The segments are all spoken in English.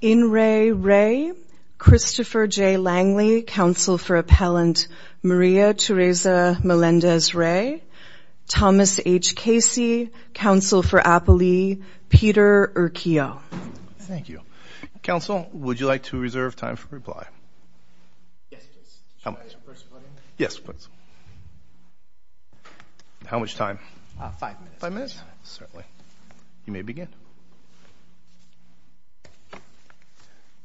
In re, Rey, Christopher J. Langley, counsel for appellant Maria Teresa Melendez-Rey, Thomas H. Casey, counsel for Apolli, Peter Urquijo. Thank you. Counsel, would you like to reserve time for reply? Yes, please. How much? Should I ask the first question? Yes, please. How much time? Five minutes. Five minutes? Certainly. You may begin.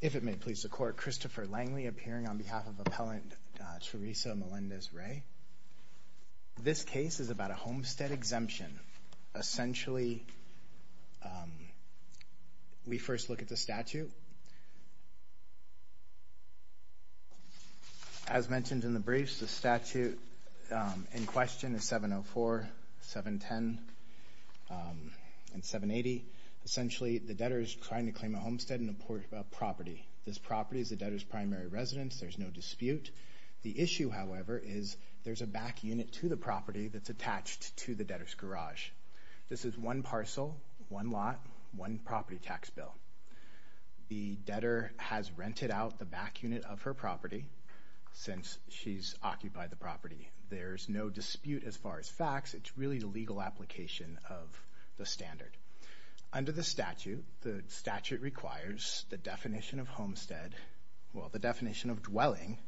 If it may please the court, Christopher Langley appearing on behalf of appellant Teresa Melendez-Rey. This case is about a homestead exemption. Essentially, we first look at the statute. As mentioned in the briefs, the statute in question is 704, 710, and 780. Essentially, the debtor is trying to claim a homestead and a property. This property is the debtor's primary residence. There's no dispute. The issue, however, is there's a back unit to the property that's attached to the debtor's garage. This is one parcel, one lot, one property tax bill. The debtor has rented out the back unit of her property since she's occupied the property. There's no dispute as far as facts. It's really the legal application of the standard. Under the statute, the statute requires the definition of homestead, well, the definition of dwelling.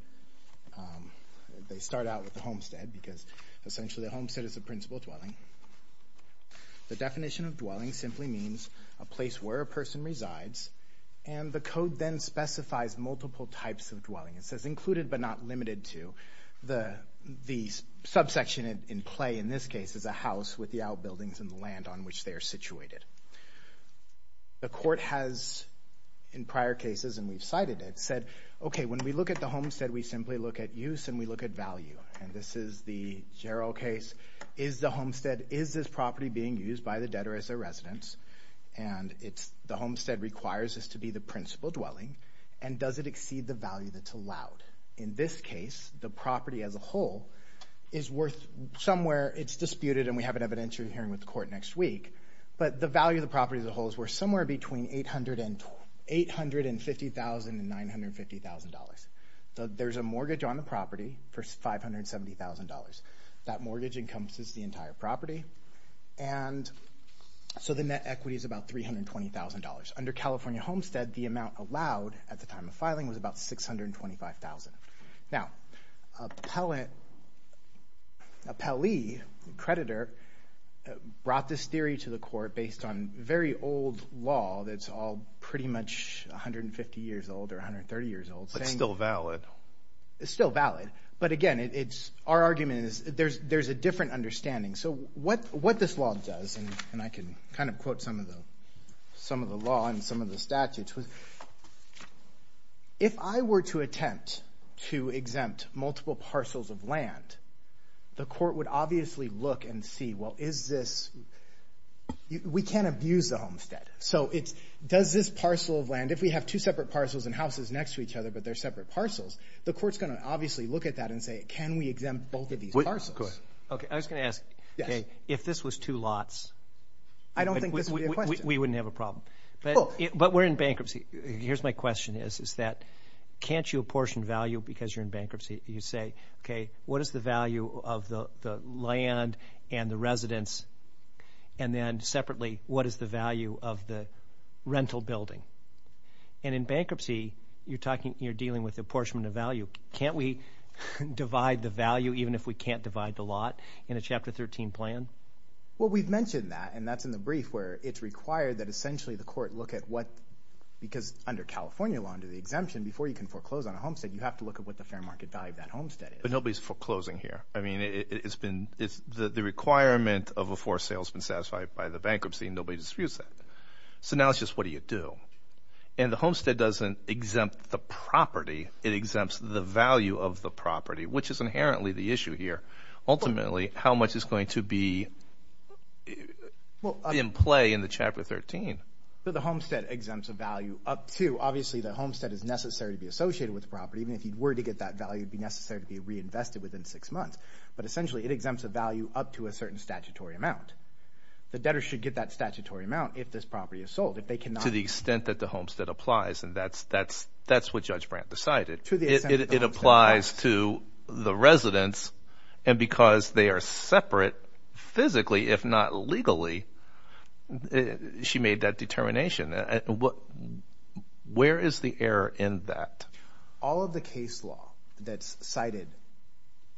They start out with the homestead because essentially the homestead is the principal dwelling. The definition of dwelling simply means a place where a person resides, and the code then specifies multiple types of dwelling. It says included but not limited to. The subsection in play in this case is a house with the outbuildings and the land on which they are situated. The court has, in prior cases, and we've cited it, said, okay, when we look at the homestead, we simply look at use and we look at value. This is the Gerald case. Is the homestead, is this property being used by the debtor as a residence? The homestead requires this to be the principal dwelling, and does it exceed the value that's allowed? In this case, the property as a whole is worth somewhere, it's disputed, and we have an evidentiary hearing with the court next week, but the value of the property as a whole is worth somewhere between $850,000 and $950,000. There's a mortgage on the property for $570,000. That mortgage encompasses the entire property, and so the net equity is about $320,000. Under California Homestead, the amount allowed at the time of filing was about $625,000. Now, a Pelley creditor brought this theory to the court based on very old law that's all pretty much 150 years old or 130 years old. It's still valid. It's still valid, but again, it's, our argument is there's a different understanding. So what this law does, and I can kind of quote some of the law and some of the statutes, was if I were to attempt to exempt multiple parcels of land, the court would obviously look and see, well, is this, we can't abuse the homestead. So it's, does this parcel of land, if we have two separate parcels and houses next to each other, but they're separate parcels, the court's gonna obviously look at that and say, can we exempt both of these parcels? Okay, I was gonna ask, if this was two lots, I don't think this would be a question. We wouldn't have a problem. But we're in bankruptcy. Here's my question is, is that, can't you apportion value because you're in bankruptcy? You say, okay, what is the value of the land and the residence? And then separately, what is the value of the rental building? And in bankruptcy, you're talking, you're dealing with apportionment of value. Can't we divide the value even if we can't divide the lot in a Chapter 13 plan? Well, we've mentioned that, and that's in the brief where it's required that essentially the court look at what, because under California law under the exemption, before you can foreclose on a homestead, you have to look at what the fair market value of that homestead is. But nobody's foreclosing here. I mean, it's been, it's the requirement of a forced salesman satisfied by the bankruptcy and nobody disputes that. So now it's just, what do you do? And the homestead doesn't exempt the property. It exempts the value of the property, which is inherently the issue here. Ultimately, how much is going to be in play in the Chapter 13? The homestead exempts a value up to, obviously the homestead is necessary to be associated with the property, even if you were to get that value, it'd be necessary to be reinvested within six months. But essentially, it exempts a value up to a certain statutory amount. The debtor should get that statutory amount if this property is sold, if they cannot. To the extent that the homestead applies, and that's what Judge Brandt decided. To the extent that the homestead applies. It applies to the residents, and because they are separate physically, if not legally, she made that determination. Where is the error in that? All of the case law that's cited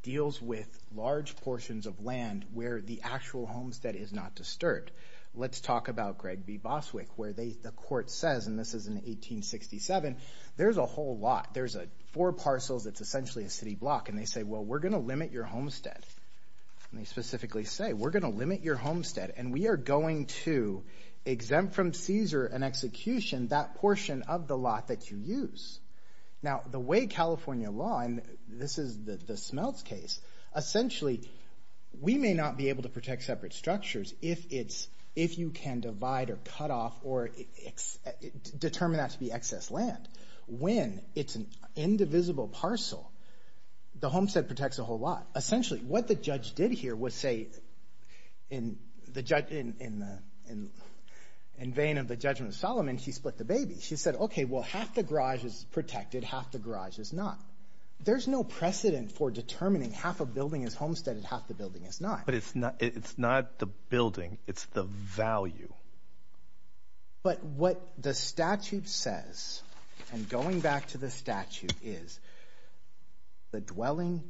deals with large portions of land where the actual homestead is not disturbed. Let's talk about Greg B. Boswick, where the court says, and this is in 1867, there's a whole lot, there's four parcels, it's essentially a city block. And they say, well, we're gonna limit your homestead. And they specifically say, we're gonna limit your homestead, and we are going to exempt from seizure and execution that portion of the lot that you use. Now, the way California law, and this is the Smeltz case, essentially, we may not be able to protect separate structures if you can divide or cut off or determine that to be excess land. When it's an indivisible parcel, the homestead protects a whole lot. Essentially, what the judge did here was say, in vain of the judgment of Solomon, she split the baby. She said, okay, well, half the garage is protected, half the garage is not. There's no precedent for determining half a building is homesteaded, half the building is not. But it's not the building, it's the value. But what the statute says, and going back to the statute, is the dwelling,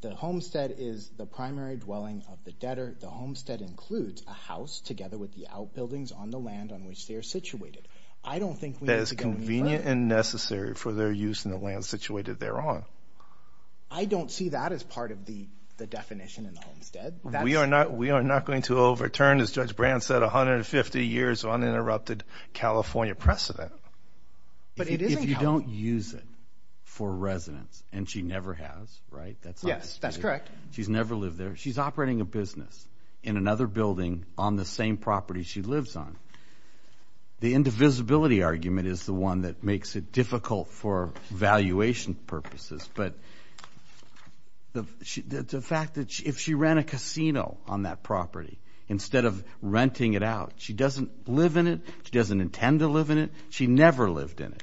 the homestead is the primary dwelling of the debtor. The homestead includes a house together with the outbuildings on the land on which they are situated. I don't think we need to get me wrong. That is convenient and necessary for their use in the land situated thereon. I don't see that as part of the definition in the homestead. We are not going to overturn, as Judge Brand said, 150 years of uninterrupted California precedent. But it is in California. If you don't use it for residence, and she never has, right? Yes, that's correct. She's never lived there. She's operating a business in another building on the same property she lives on. The indivisibility argument is the one that makes it difficult for valuation purposes. But the fact that if she ran a casino on that property, instead of renting it out, she doesn't live in it, she doesn't intend to live in it, she never lived in it.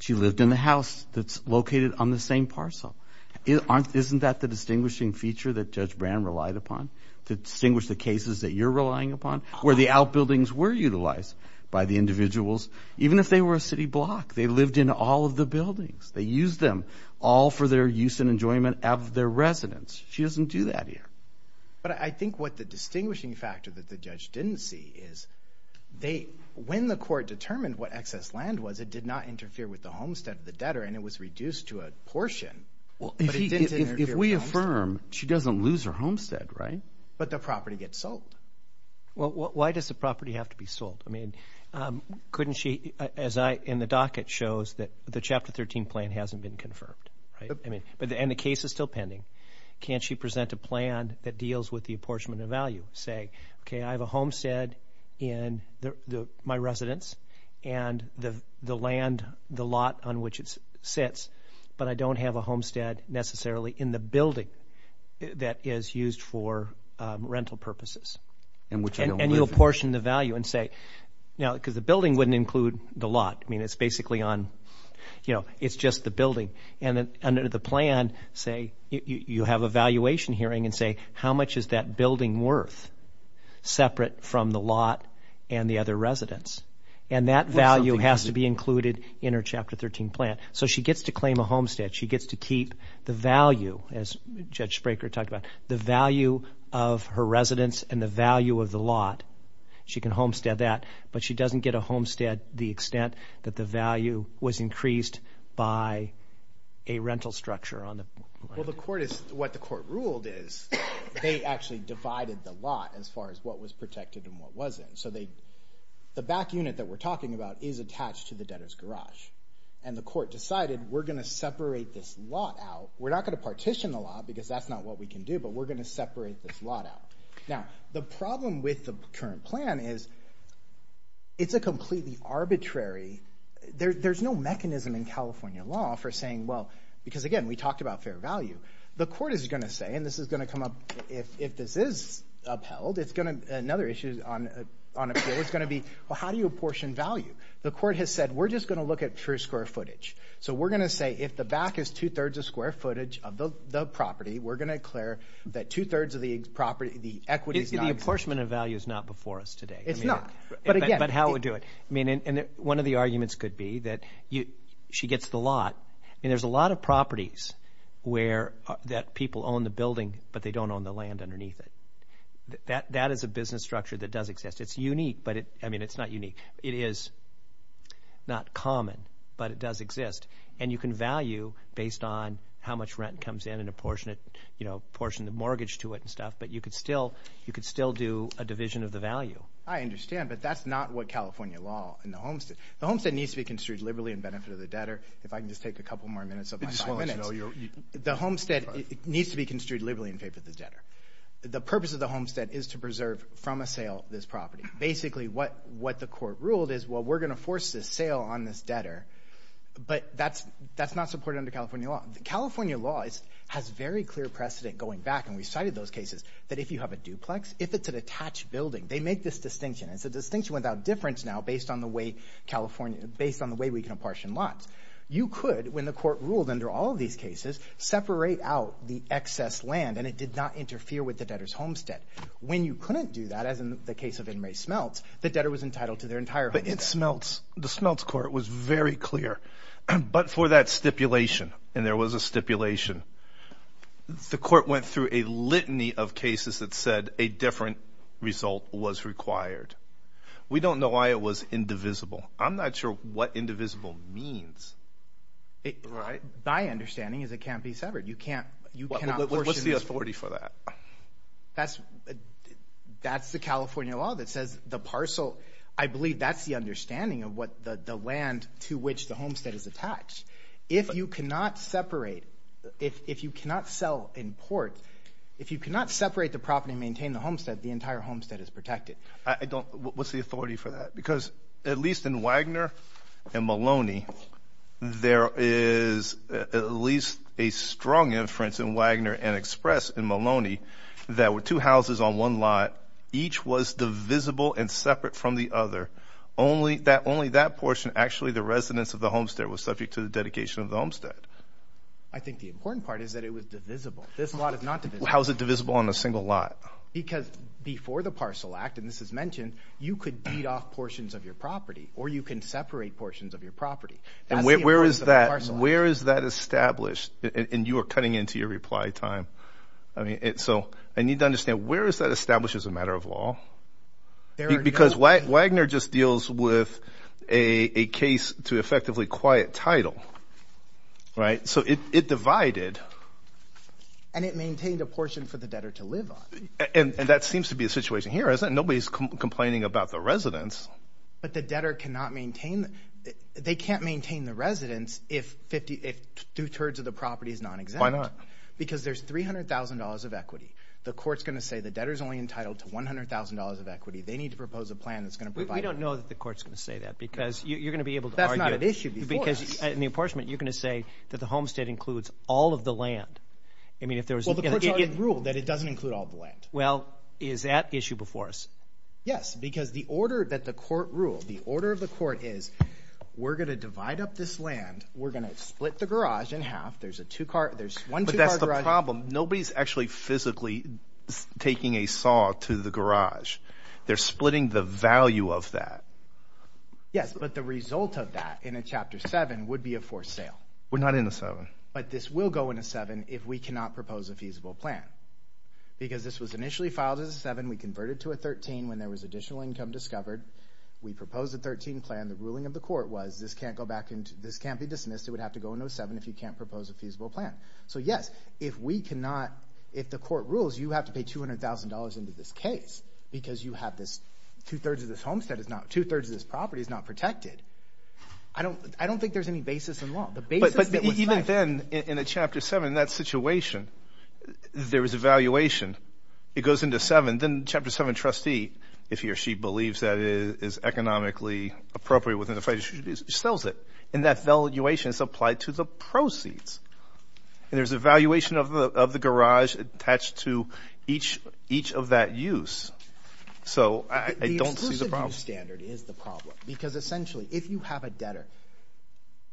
She lived in the house that's located on the same parcel. Isn't that the distinguishing feature that Judge Brand relied upon? To distinguish the cases that you're relying upon? Where the outbuildings were utilized by the individuals, even if they were a city block, they lived in all of the buildings. They used them all for their use and enjoyment of their residence. She doesn't do that here. But I think what the distinguishing factor that the judge didn't see is, when the court determined what excess land was, it did not interfere with the homestead of the debtor and it was reduced to a portion. Well, if we affirm, she doesn't lose her homestead, right? But the property gets sold. Well, why does the property have to be sold? I mean, couldn't she, as in the docket shows, that the Chapter 13 plan hasn't been confirmed, right? And the case is still pending. Can't she present a plan that deals with the apportionment of value? Say, okay, I have a homestead in my residence and the land, the lot on which it sits, but I don't have a homestead necessarily in the building that is used for rental purposes. And which I don't live in. And you'll portion the value and say, now, because the building wouldn't include the lot. I mean, it's basically on, you know, it's just the building. And under the plan, say, you have a valuation hearing and say, how much is that building worth separate from the lot and the other residents? And that value has to be included in her Chapter 13 plan. So she gets to claim a homestead. She gets to keep the value, as Judge Spraker talked about, the value of her residence and the value of the lot. She can homestead that. But she doesn't get a homestead the extent that the value was increased by a rental structure on the lot. Well, what the court ruled is they actually divided the lot as far as what was protected and what wasn't. So the back unit that we're talking about is attached to the debtor's garage. And the court decided, we're going to separate this lot out. We're not going to partition the lot, because that's not what we can do. But we're going to separate this lot out. Now, the problem with the current plan is it's a completely arbitrary, there's no mechanism in California law for saying, well, because, again, we talked about fair value. The court is going to say, and this is going to come up, if this is upheld, it's going to be another issue on appeal. It's going to be, well, how do you apportion value? The court has said, we're just going to look at true square footage. So we're going to say, if the back is 2 thirds of square footage of the property, we're going to declare that 2 thirds of the property, the equity is not included. The apportionment of value is not before us today. It's not. But how would you do it? I mean, one of the arguments could be that she gets the lot. And there's a lot of properties that people own the building, but they don't own the land underneath it. That is a business structure that does exist. It's unique, but I mean, it's not unique. It is not common, but it does exist. And you can value based on how much rent comes in and apportion the mortgage to it and stuff. But you could still do a division of the value. I understand, but that's not what California law in the homestead. The homestead needs to be construed liberally in benefit of the debtor. If I can just take a couple more minutes of my five minutes. The homestead needs to be construed liberally in favor of the debtor. The purpose of the homestead is to preserve from a sale this property. Basically, what the court ruled is, well, we're going to force this sale on this debtor, but that's not supported under California law. California law has very clear precedent going back, and we cited those cases, that if you have a duplex, if it's an attached building, they make this distinction. It's a distinction without difference now based on the way we can apportion lots. You could, when the court ruled under all of these cases, separate out the excess land, and it did not interfere with the debtor's homestead. When you couldn't do that, as in the case of Inmary Smelts, the debtor was entitled to their entire homestead. But the Smelts court was very clear. But for that stipulation, and there was a stipulation, the court went through a litany of cases that said a different result was required. We don't know why it was indivisible. I'm not sure what indivisible means, right? My understanding is it can't be severed. You can't, you cannot portion this. What's the authority for that? That's the California law that says the parcel, I believe that's the understanding of what the land to which the homestead is attached. If you cannot separate, if you cannot sell in port, if you cannot separate the property and maintain the homestead, the entire homestead is protected. What's the authority for that? Because at least in Wagner and Maloney, there is at least a strong inference in Wagner and Express in Maloney that with two houses on one lot, each was divisible and separate from the other. Only that portion, actually the residence of the homestead was subject to the dedication of the homestead. I think the important part is that it was divisible. This lot is not divisible. How is it divisible on a single lot? Because before the Parcel Act, and this is mentioned, you could deed off portions of your property or you can separate portions of your property. And where is that established? And you are cutting into your reply time. I mean, so I need to understand where is that established as a matter of law? Because Wagner just deals with a case to effectively quiet title, right? So it divided. And it maintained a portion for the debtor to live on. And that seems to be a situation here, isn't it? Nobody's complaining about the residence. But the debtor cannot maintain, they can't maintain the residence if two-thirds of the property is non-exempt. Why not? Because there's $300,000 of equity. The court's gonna say the debtor's only entitled to $100,000 of equity. They need to propose a plan that's gonna provide- We don't know that the court's gonna say that because you're gonna be able to argue- That's not an issue before us. Because in the apportionment, you're gonna say that the homestead includes all of the land. I mean, if there was- Rule that it doesn't include all the land. Well, is that issue before us? Yes, because the order that the court ruled, the order of the court is, we're gonna divide up this land. We're gonna split the garage in half. There's a two-car, there's one two-car garage- But that's the problem. Nobody's actually physically taking a saw to the garage. They're splitting the value of that. Yes, but the result of that in a chapter seven would be a forced sale. We're not in a seven. But this will go in a seven if we cannot propose a feasible plan. Because this was initially filed as a seven. We converted to a 13 when there was additional income discovered. We proposed a 13 plan. The ruling of the court was, this can't go back into, this can't be dismissed. It would have to go into a seven if you can't propose a feasible plan. So yes, if we cannot, if the court rules, you have to pay $200,000 into this case because you have this, two-thirds of this homestead is not, two-thirds of this property is not protected. I don't think there's any basis in law. The basis that was- But even then, in a chapter seven, in that situation, there was a valuation. It goes into seven. Then chapter seven, trustee, if he or she believes that it is economically appropriate within the federal jurisdiction, sells it. And that valuation is applied to the proceeds. And there's a valuation of the garage attached to each of that use. So I don't see the problem. The exclusive use standard is the problem. Because essentially, if you have a debtor,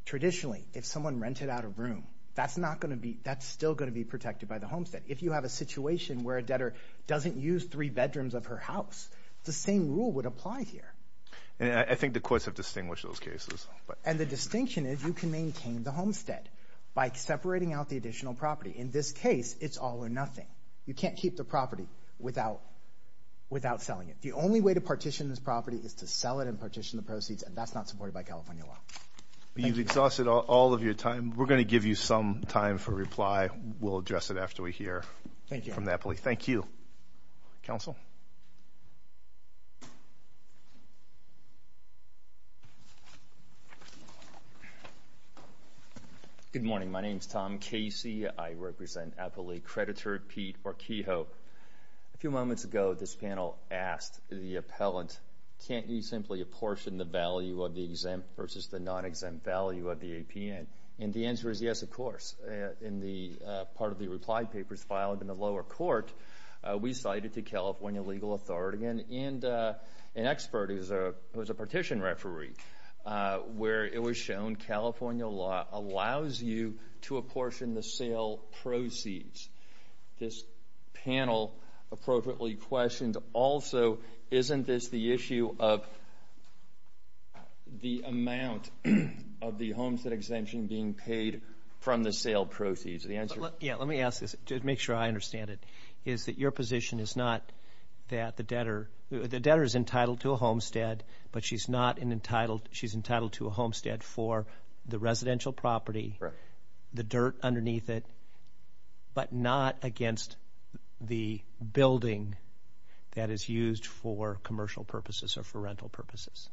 traditionally, if someone rented out a room, that's not gonna be, that's still gonna be protected by the homestead. If you have a situation where a debtor doesn't use three bedrooms of her house, the same rule would apply here. And I think the courts have distinguished those cases. And the distinction is you can maintain the homestead by separating out the additional property. In this case, it's all or nothing. You can't keep the property without selling it. The only way to partition this property is to sell it and partition the proceeds, and that's not supported by California law. You've exhausted all of your time. We're gonna give you some time for reply. We'll address it after we hear from Napoli. Thank you. Counsel? Good morning. My name's Tom Casey. I represent Napoli. Creditor Pete Orkeho. A few moments ago, this panel asked the appellant, can't you simply apportion the value of the exempt versus the non-exempt value of the APN? And the answer is yes, of course. In the part of the reply papers filed in the lower court, we cited the California legal authority and an expert who's a partition referee, where it was shown California law allows you to apportion the sale proceeds. This panel appropriately questioned also, isn't this the issue of the amount of the homestead exemption being paid from the sale proceeds? Yeah, let me ask this to make sure I understand it, is that your position is not that the debtor, the debtor is entitled to a homestead, but she's entitled to a homestead for the residential property, the dirt underneath it, but not against the building that is used for commercial purposes or for rental purposes?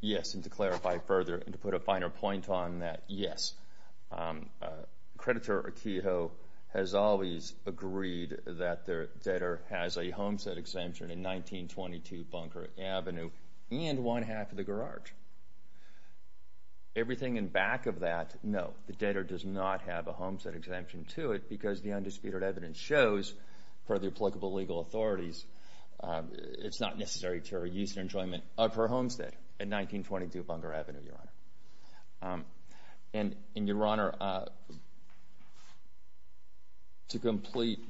Yes, and to clarify further and to put a finer point on that, yes, creditor Akiho has always agreed that the debtor has a homestead exemption in 1922 Bunker Avenue and one half of the garage. Everything in back of that, no, the debtor does not have a homestead exemption to it because the undisputed evidence shows for the applicable legal authorities, it's not necessary to her use and enjoyment of her homestead in 1922 Bunker Avenue, Your Honor. And Your Honor, to complete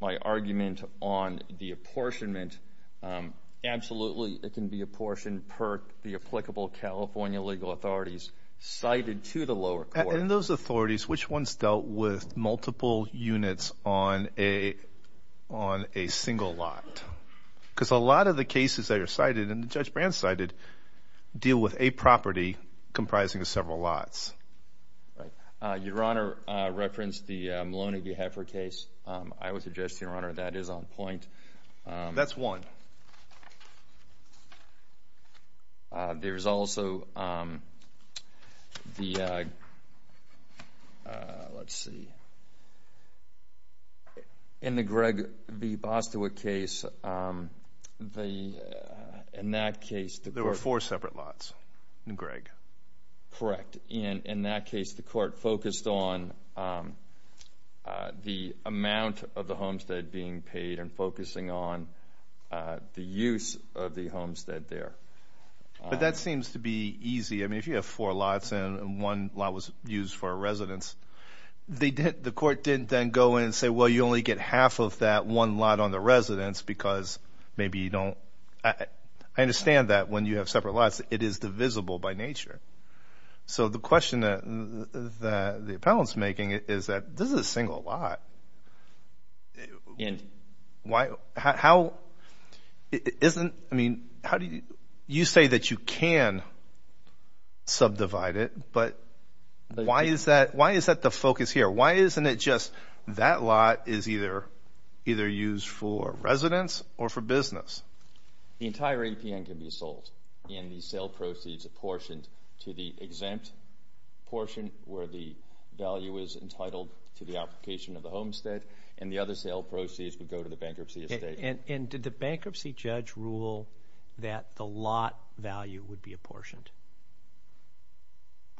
my argument on the apportionment, absolutely it can be apportioned per the applicable California legal authorities cited to the lower court. And those authorities, which ones dealt with multiple units on a single lot? Because a lot of the cases that are cited and Judge Brand cited deal with a property comprising of several lots. Your Honor referenced the Maloney v. Heffer case. I would suggest, Your Honor, that is on point. That's one. There's also the, let's see, in the Gregg v. Bostwick case, in that case the court- There were four separate lots in Gregg. Correct, in that case the court focused on the amount of the homestead being paid and focusing on the use of the homestead there. But that seems to be easy. I mean, if you have four lots and one lot was used for a residence, the court didn't then go in and say, well, you only get half of that one lot on the residence because maybe you don't- I understand that when you have separate lots, it is divisible by nature. So the question that the appellant's making is that this is a single lot. Why, how, isn't, I mean, how do you- You say that you can subdivide it, but why is that the focus here? Why isn't it just that lot is either used for residence or for business? The entire APN can be sold, and the sale proceeds apportioned to the exempt portion where the value is entitled to the application of the homestead, and the other sale proceeds would go to the bankruptcy estate. And did the bankruptcy judge rule that the lot value would be apportioned?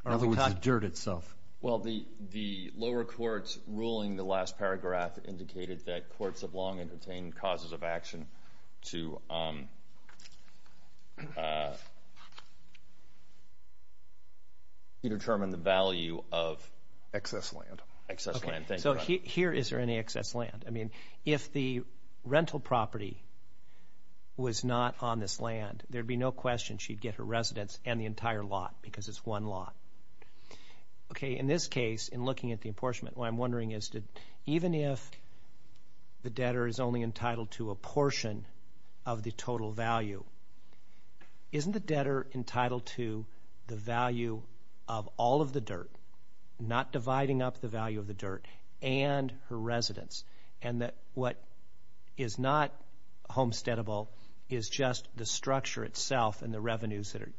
In other words, the dirt itself. Well, the lower court's ruling in the last paragraph indicated that courts have long entertained causes of action to determine the value of- Excess land. Excess land, thank you. So here, is there any excess land? I mean, if the rental property was not on this land, there'd be no question she'd get her residence and the entire lot, because it's one lot. Okay, in this case, in looking at the apportionment, what I'm wondering is that even if the debtor is only entitled to a portion of the total value, isn't the debtor entitled to the value of all of the dirt, not dividing up the value of the dirt, and her residence, and that what is not homesteadable is just the structure itself and the revenues that are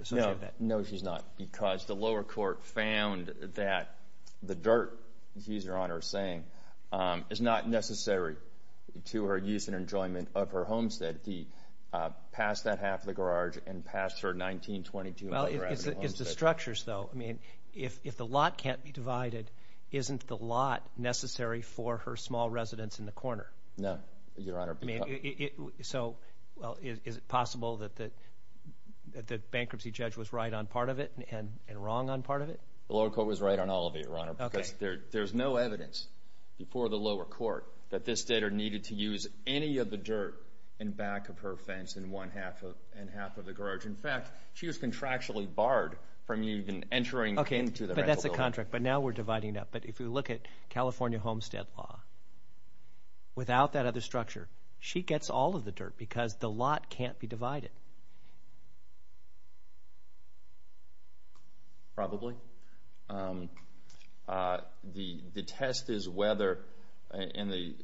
associated with that. No, she's not, because the lower court found that the dirt, he's, Your Honor, saying, is not necessary to her use and enjoyment of her homestead. He passed that half of the garage and passed her 19, 22- Well, it's the structures, though. I mean, if the lot can't be divided, isn't the lot necessary for her small residence in the corner? No, Your Honor, because- So, well, is it possible that the bankruptcy judge was right on part of it and wrong on part of it? The lower court was right on all of it, Your Honor, because there's no evidence before the lower court that this debtor needed to use any of the dirt in back of her fence in half of the garage. In fact, she was contractually barred from even entering into the rental building. Okay, but that's a contract, but now we're dividing it up. But if you look at California homestead law, without that other structure, she gets all of the dirt because the lot can't be divided. Probably. The test is whether, and the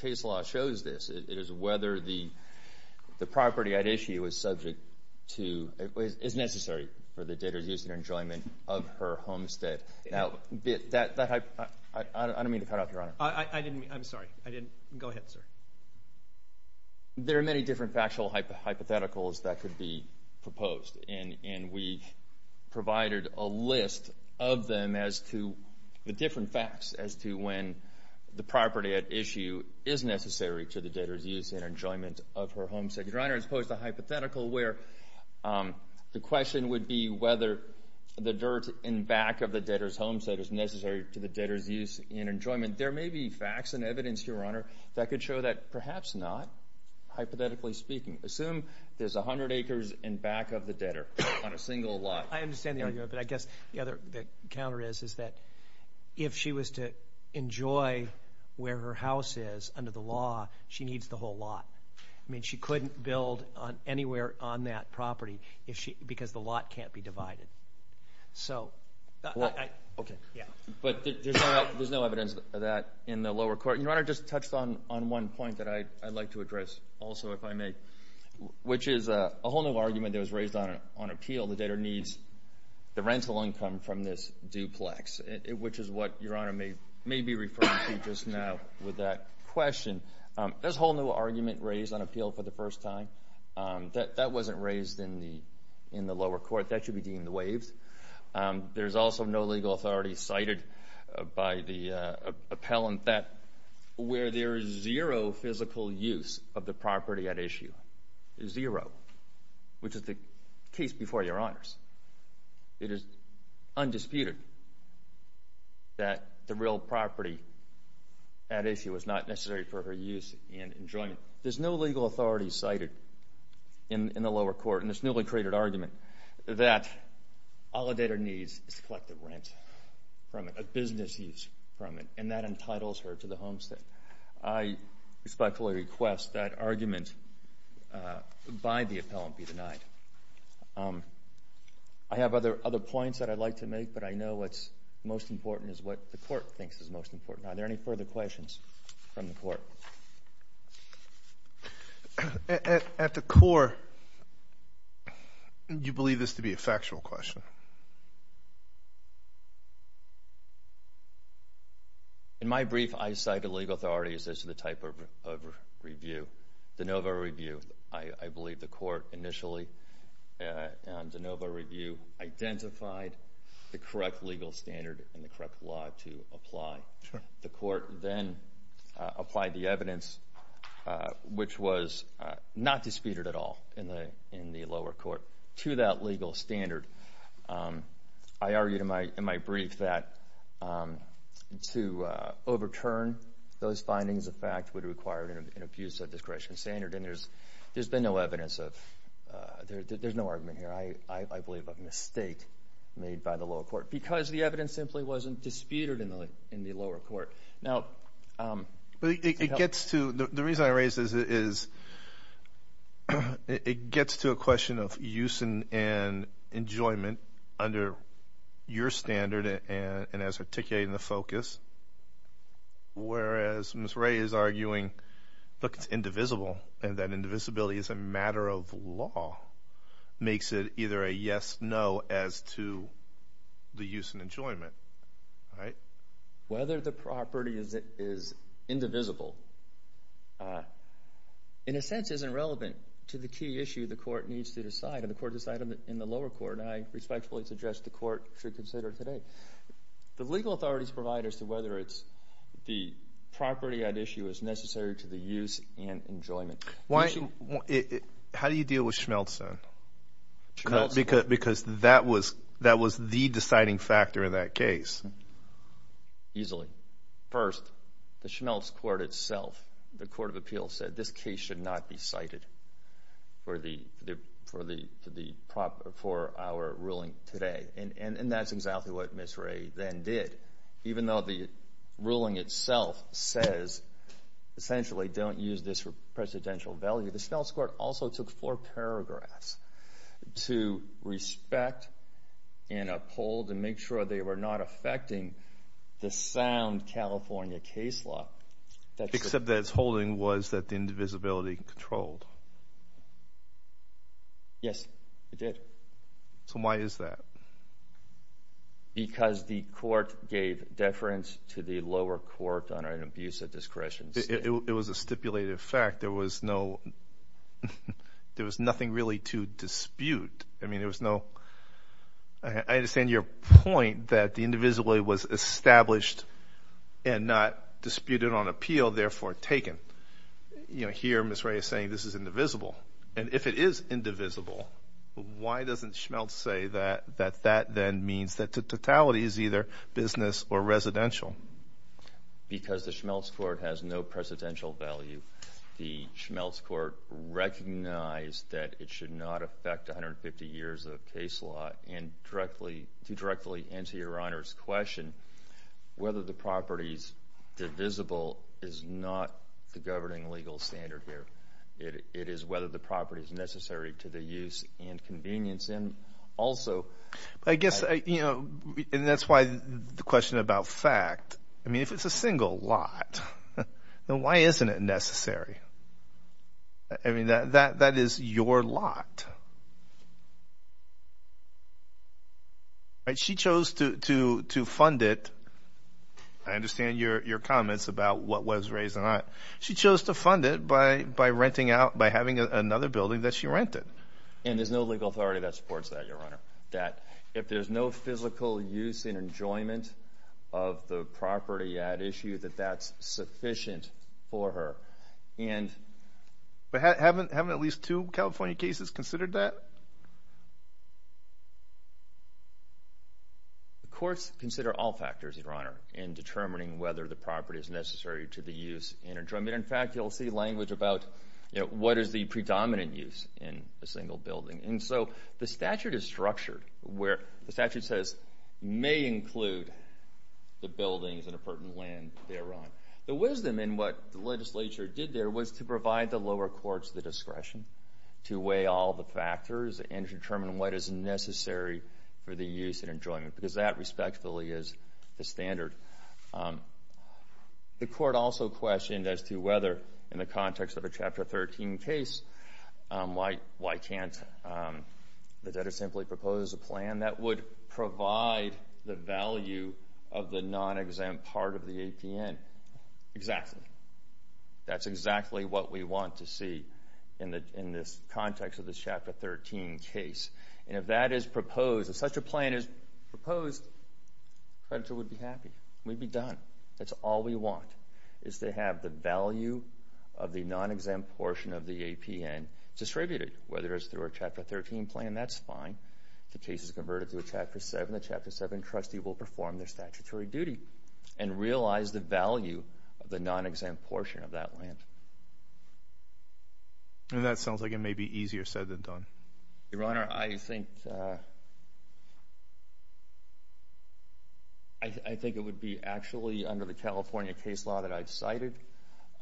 case law shows this, it is whether the property at issue is subject to, is necessary for the debtor's use and enjoyment of her homestead. Now, that, I don't mean to cut off, Your Honor. I'm sorry, I didn't, go ahead, sir. There are many different factual hypotheticals that could be proposed, and we provided a list of them as to the different facts as to when the property at issue is necessary to the debtor's use and enjoyment of her homestead. Your Honor, as opposed to a hypothetical where the question would be whether the dirt in back of the debtor's homestead is necessary to the debtor's use and enjoyment, there may be facts and evidence, Your Honor, that could show that perhaps not, hypothetically speaking. Assume there's 100 acres in back of the debtor on a single lot. I understand the argument, but I guess the counter is is that if she was to enjoy where her house is under the law, she needs the whole lot. I mean, she couldn't build anywhere on that property because the lot can't be divided. Okay. But there's no evidence of that in the lower court. Your Honor, just touched on one point that I'd like to address also, if I may, which is a whole new argument that was raised on appeal. The debtor needs the rental income from this duplex, which is what Your Honor may be referring to just now with that question. There's a whole new argument raised on appeal for the first time. That wasn't raised in the lower court. That should be deemed waived. There's also no legal authority cited by the appellant that where there is zero physical use of the property at issue, zero, which is the case before Your Honors. It is undisputed that the real property at issue was not necessary for her use and enjoyment. There's no legal authority cited in the lower court in this newly created argument that all a debtor needs is to collect the rent from it, a business use from it, and that entitles her to the homestead. I respectfully request that argument by the appellant be denied. I have other points that I'd like to make, but I know what's most important is what the court thinks is most important. Are there any further questions from the court? Yes, sir. At the core, do you believe this to be a factual question? In my brief, I cite a legal authority as the type of review, de novo review. I believe the court initially on de novo review identified the correct legal standard and the correct law to apply. The court then applied the evidence, which was not disputed at all in the lower court, to that legal standard. I argued in my brief that to overturn those findings, in fact, would require an abuse of discretion standard, and there's been no evidence of, there's no argument here, I believe a mistake made by the lower court because the evidence simply wasn't disputed in the lower court. Now, it gets to, the reason I raise this is it gets to a question of use and enjoyment under your standard and as articulated in the focus, whereas Ms. Ray is arguing, look, it's indivisible, and that indivisibility is a matter of law, right? Whether the property is indivisible, in a sense, isn't relevant to the key issue the court needs to decide, and the court decided in the lower court, and I respectfully suggest the court should consider today. The legal authorities provide as to whether it's the property at issue is necessary to the use and enjoyment. How do you deal with Schmelzen? Schmelzen. Because that was the deciding factor in that case. Easily. First, the Schmelz court itself, the court of appeals said this case should not be cited for our ruling today, and that's exactly what Ms. Ray then did. Even though the ruling itself says, essentially, don't use this for presidential value, the Schmelz court also took four paragraphs to respect and uphold and make sure they were not affecting the sound California case law. Except that its holding was that the indivisibility controlled. Yes, it did. So why is that? Because the court gave deference to the lower court under an abuse of discretion. It was a stipulated fact. There was no, there was nothing really to dispute. I mean, there was no, I understand your point that the indivisibility was established and not disputed on appeal, therefore taken. You know, here Ms. Ray is saying this is indivisible. And if it is indivisible, why doesn't Schmelz say that that then means that the totality is either business or residential? Because the Schmelz court has no presidential value. The Schmelz court recognized that it should not affect 150 years of case law and directly, to directly answer your honor's question, whether the property's divisible is not the governing legal standard here. It is whether the property's necessary to the use and convenience and also. I guess, you know, and that's why the question about fact. I mean, if it's a single lot, then why isn't it necessary? I mean, that is your lot. And she chose to fund it. I understand your comments about what was raised and not. She chose to fund it by renting out, by having another building that she rented. And there's no legal authority that supports that, your honor. That if there's no physical use and enjoyment of the property at issue, that that's sufficient for her. And. But haven't at least two California cases considered that? The courts consider all factors, your honor, in determining whether the property is necessary to the use and enjoyment. In fact, you'll see language about, you know, what is the predominant use in a single building? And so the statute is structured where the statute says, may include the buildings and a pertinent land thereon. The wisdom in what the legislature did there was to provide the lower courts the discretion to weigh all the factors and to determine what is necessary for the use and enjoyment, because that respectfully is the standard. The court also questioned as to whether in the context of a Chapter 13 case, why can't the debtor simply propose a plan that would provide the value of the non-exempt part of the APN? Exactly. That's exactly what we want to see in this context of the Chapter 13 case. And if that is proposed, if such a plan is proposed, creditor would be happy. We'd be done. That's all we want, is to have the value of the non-exempt portion of the APN distributed. Whether it's through a Chapter 13 plan, that's fine. If the case is converted to a Chapter 7, the Chapter 7 trustee will perform their statutory duty and realize the value of the non-exempt portion of that land. And that sounds like it may be easier said than done. Your Honor, I think... I think it would be actually under the California case law that I've cited.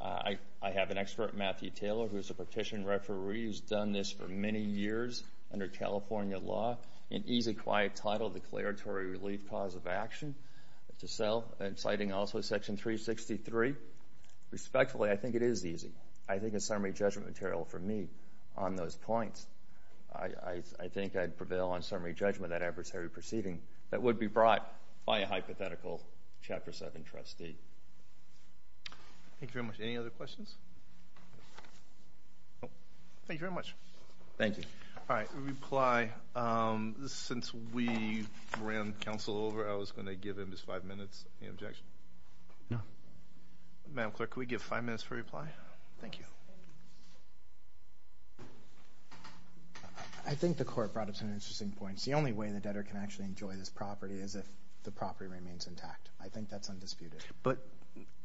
I have an expert, Matthew Taylor, who's a petition referee, who's done this for many years under California law. An easy, quiet title, Declaratory Relief Clause of Action to sell. I'm citing also Section 363. Respectfully, I think it is easy. I think it's summary judgment material for me on those points. I think I'd prevail on summary judgment that adversary perceiving that would be brought by a hypothetical Chapter 7 trustee. Thank you very much. Any other questions? Thank you very much. Thank you. All right, reply. Since we ran counsel over, I was gonna give him just five minutes. Any objection? No. Madam Clerk, can we give five minutes for reply? Thank you. I think the court brought up some interesting points. The only way the debtor can actually enjoy this property is if the property remains intact. I think that's undisputed. But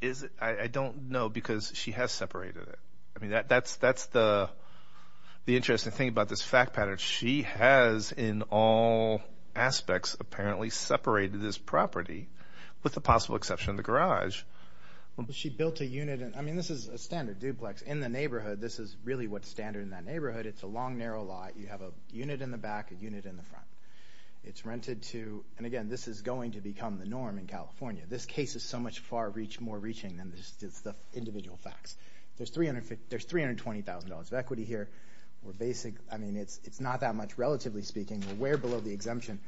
is it? I don't know because she has separated it. I mean, that's the interesting thing about this fact pattern. She has, in all aspects, apparently separated this property with the possible exception of the garage. She built a unit. I mean, this is a standard duplex. In the neighborhood, this is really what's standard in that neighborhood. It's a long, narrow lot. You have a unit in the back, a unit in the front. It's rented to, and again, this is going to become the norm in California. This case is so much more reaching than just the individual facts. There's $320,000 of equity here. We're basic, I mean, it's not that much, relatively speaking. We're well below the exemption.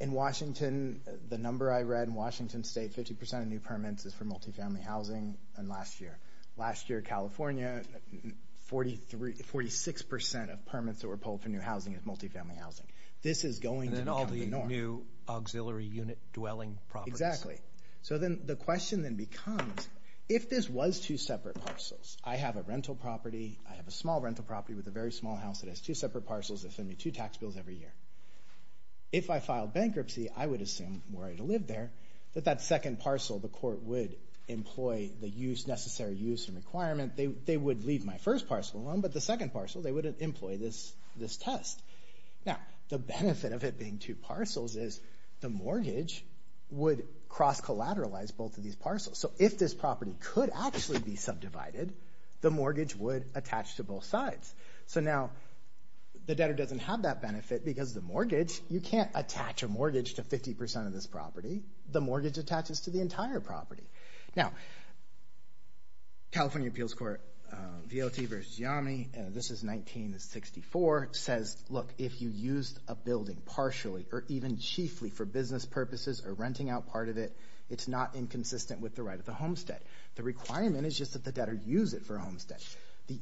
In Washington, the number I read, in Washington State, 50% of new permits is for multifamily housing than last year. Last year, California, 46% of permits that were pulled for new housing is multifamily housing. This is going to become the norm. And then all the new auxiliary unit dwelling properties. So then the question then becomes, if this was two separate parcels, I have a rental property, I have a small rental property with a very small house that has two separate parcels that send me two tax bills every year. If I filed bankruptcy, I would assume, were I to live there, that that second parcel, the court would employ the necessary use and requirement. They would leave my first parcel alone, but the second parcel, they would employ this test. Now, the benefit of it being two parcels is the mortgage would cross-collateralize both of these parcels. So if this property could actually be subdivided, the mortgage would attach to both sides. So now, the debtor doesn't have that benefit because the mortgage, you can't attach a mortgage to 50% of this property. The mortgage attaches to the entire property. Now, California Appeals Court, VLT versus YAMI, this is 1964, says, look, if you used a building partially or even chiefly for business purposes or renting out part of it, it's not inconsistent with the right of the homestead. The requirement is just that the debtor use it for a homestead. The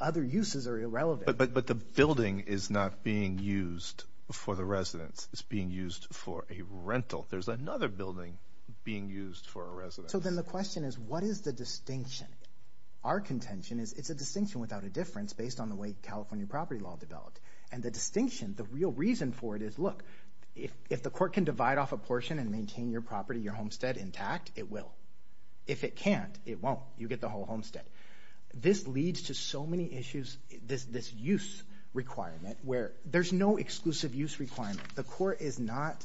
other uses are irrelevant. But the building is not being used for the residence. It's being used for a rental. There's another building being used for a residence. So then the question is, what is the distinction? Our contention is it's a distinction without a difference based on the way California property law developed. And the distinction, the real reason for it is, look, if the court can divide off a portion and maintain your property, your homestead intact, it will. If it can't, it won't. You get the whole homestead. This leads to so many issues, this use requirement, where there's no exclusive use requirement. The court is not,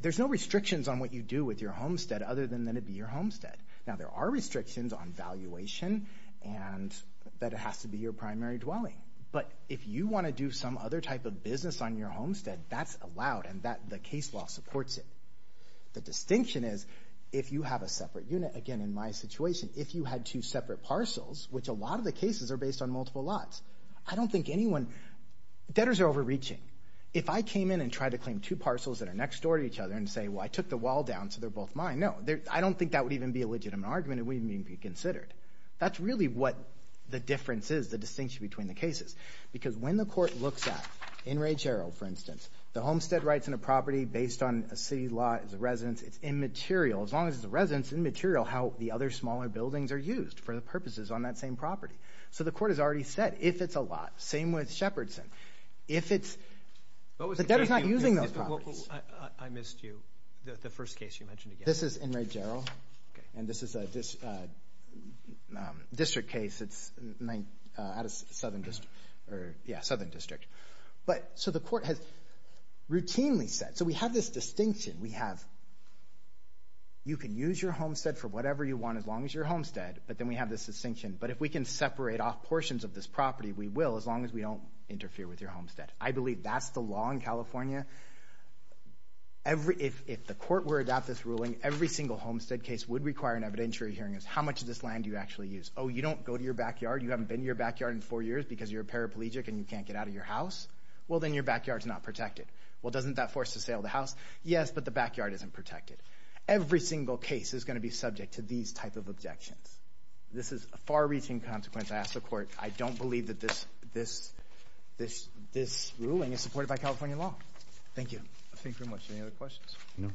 there's no restrictions on what you do with your homestead other than that it be your homestead. Now, there are restrictions on valuation and that it has to be your primary dwelling. But if you wanna do some other type of business on your homestead, that's allowed and the case law supports it. The distinction is, if you have a separate unit, again, in my situation, if you had two separate parcels, which a lot of the cases are based on multiple lots, I don't think anyone, debtors are overreaching. If I came in and tried to claim two parcels that are next door to each other and say, well, I took the wall down, so they're both mine, no. I don't think that would even be a legitimate argument and wouldn't even be considered. That's really what the difference is, the distinction between the cases. Because when the court looks at, in Ray Gerald, for instance, the homestead rights in a property based on a city law as a residence, it's immaterial, as long as it's a residence, immaterial how the other smaller buildings are used for the purposes on that same property. So the court has already said, if it's a lot, same with Shepardson. If it's, the debtor's not using those properties. I missed you, the first case you mentioned again. This is in Ray Gerald and this is a district case, it's at a southern district. But, so the court has routinely said, so we have this distinction, we have, you can use your homestead for whatever you want, as long as you're homestead, but then we have this distinction. But if we can separate off portions of this property, we will, as long as we don't interfere with your homestead. I believe that's the law in California. If the court were to adopt this ruling, every single homestead case would require an evidentiary hearing of how much of this land do you actually use? Oh, you don't go to your backyard, you haven't been to your backyard in four years because you're a paraplegic and you can't get out of your house? Well, then your backyard's not protected. Well, doesn't that force to sale the house? Yes, but the backyard isn't protected. Every single case is gonna be subject to these type of objections. This is a far-reaching consequence, I ask the court. I don't believe that this ruling is supported by California law. Thank you. Thank you very much, any other questions? No.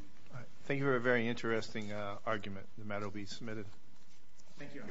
Thank you for a very interesting argument. The matter will be submitted. Thank you.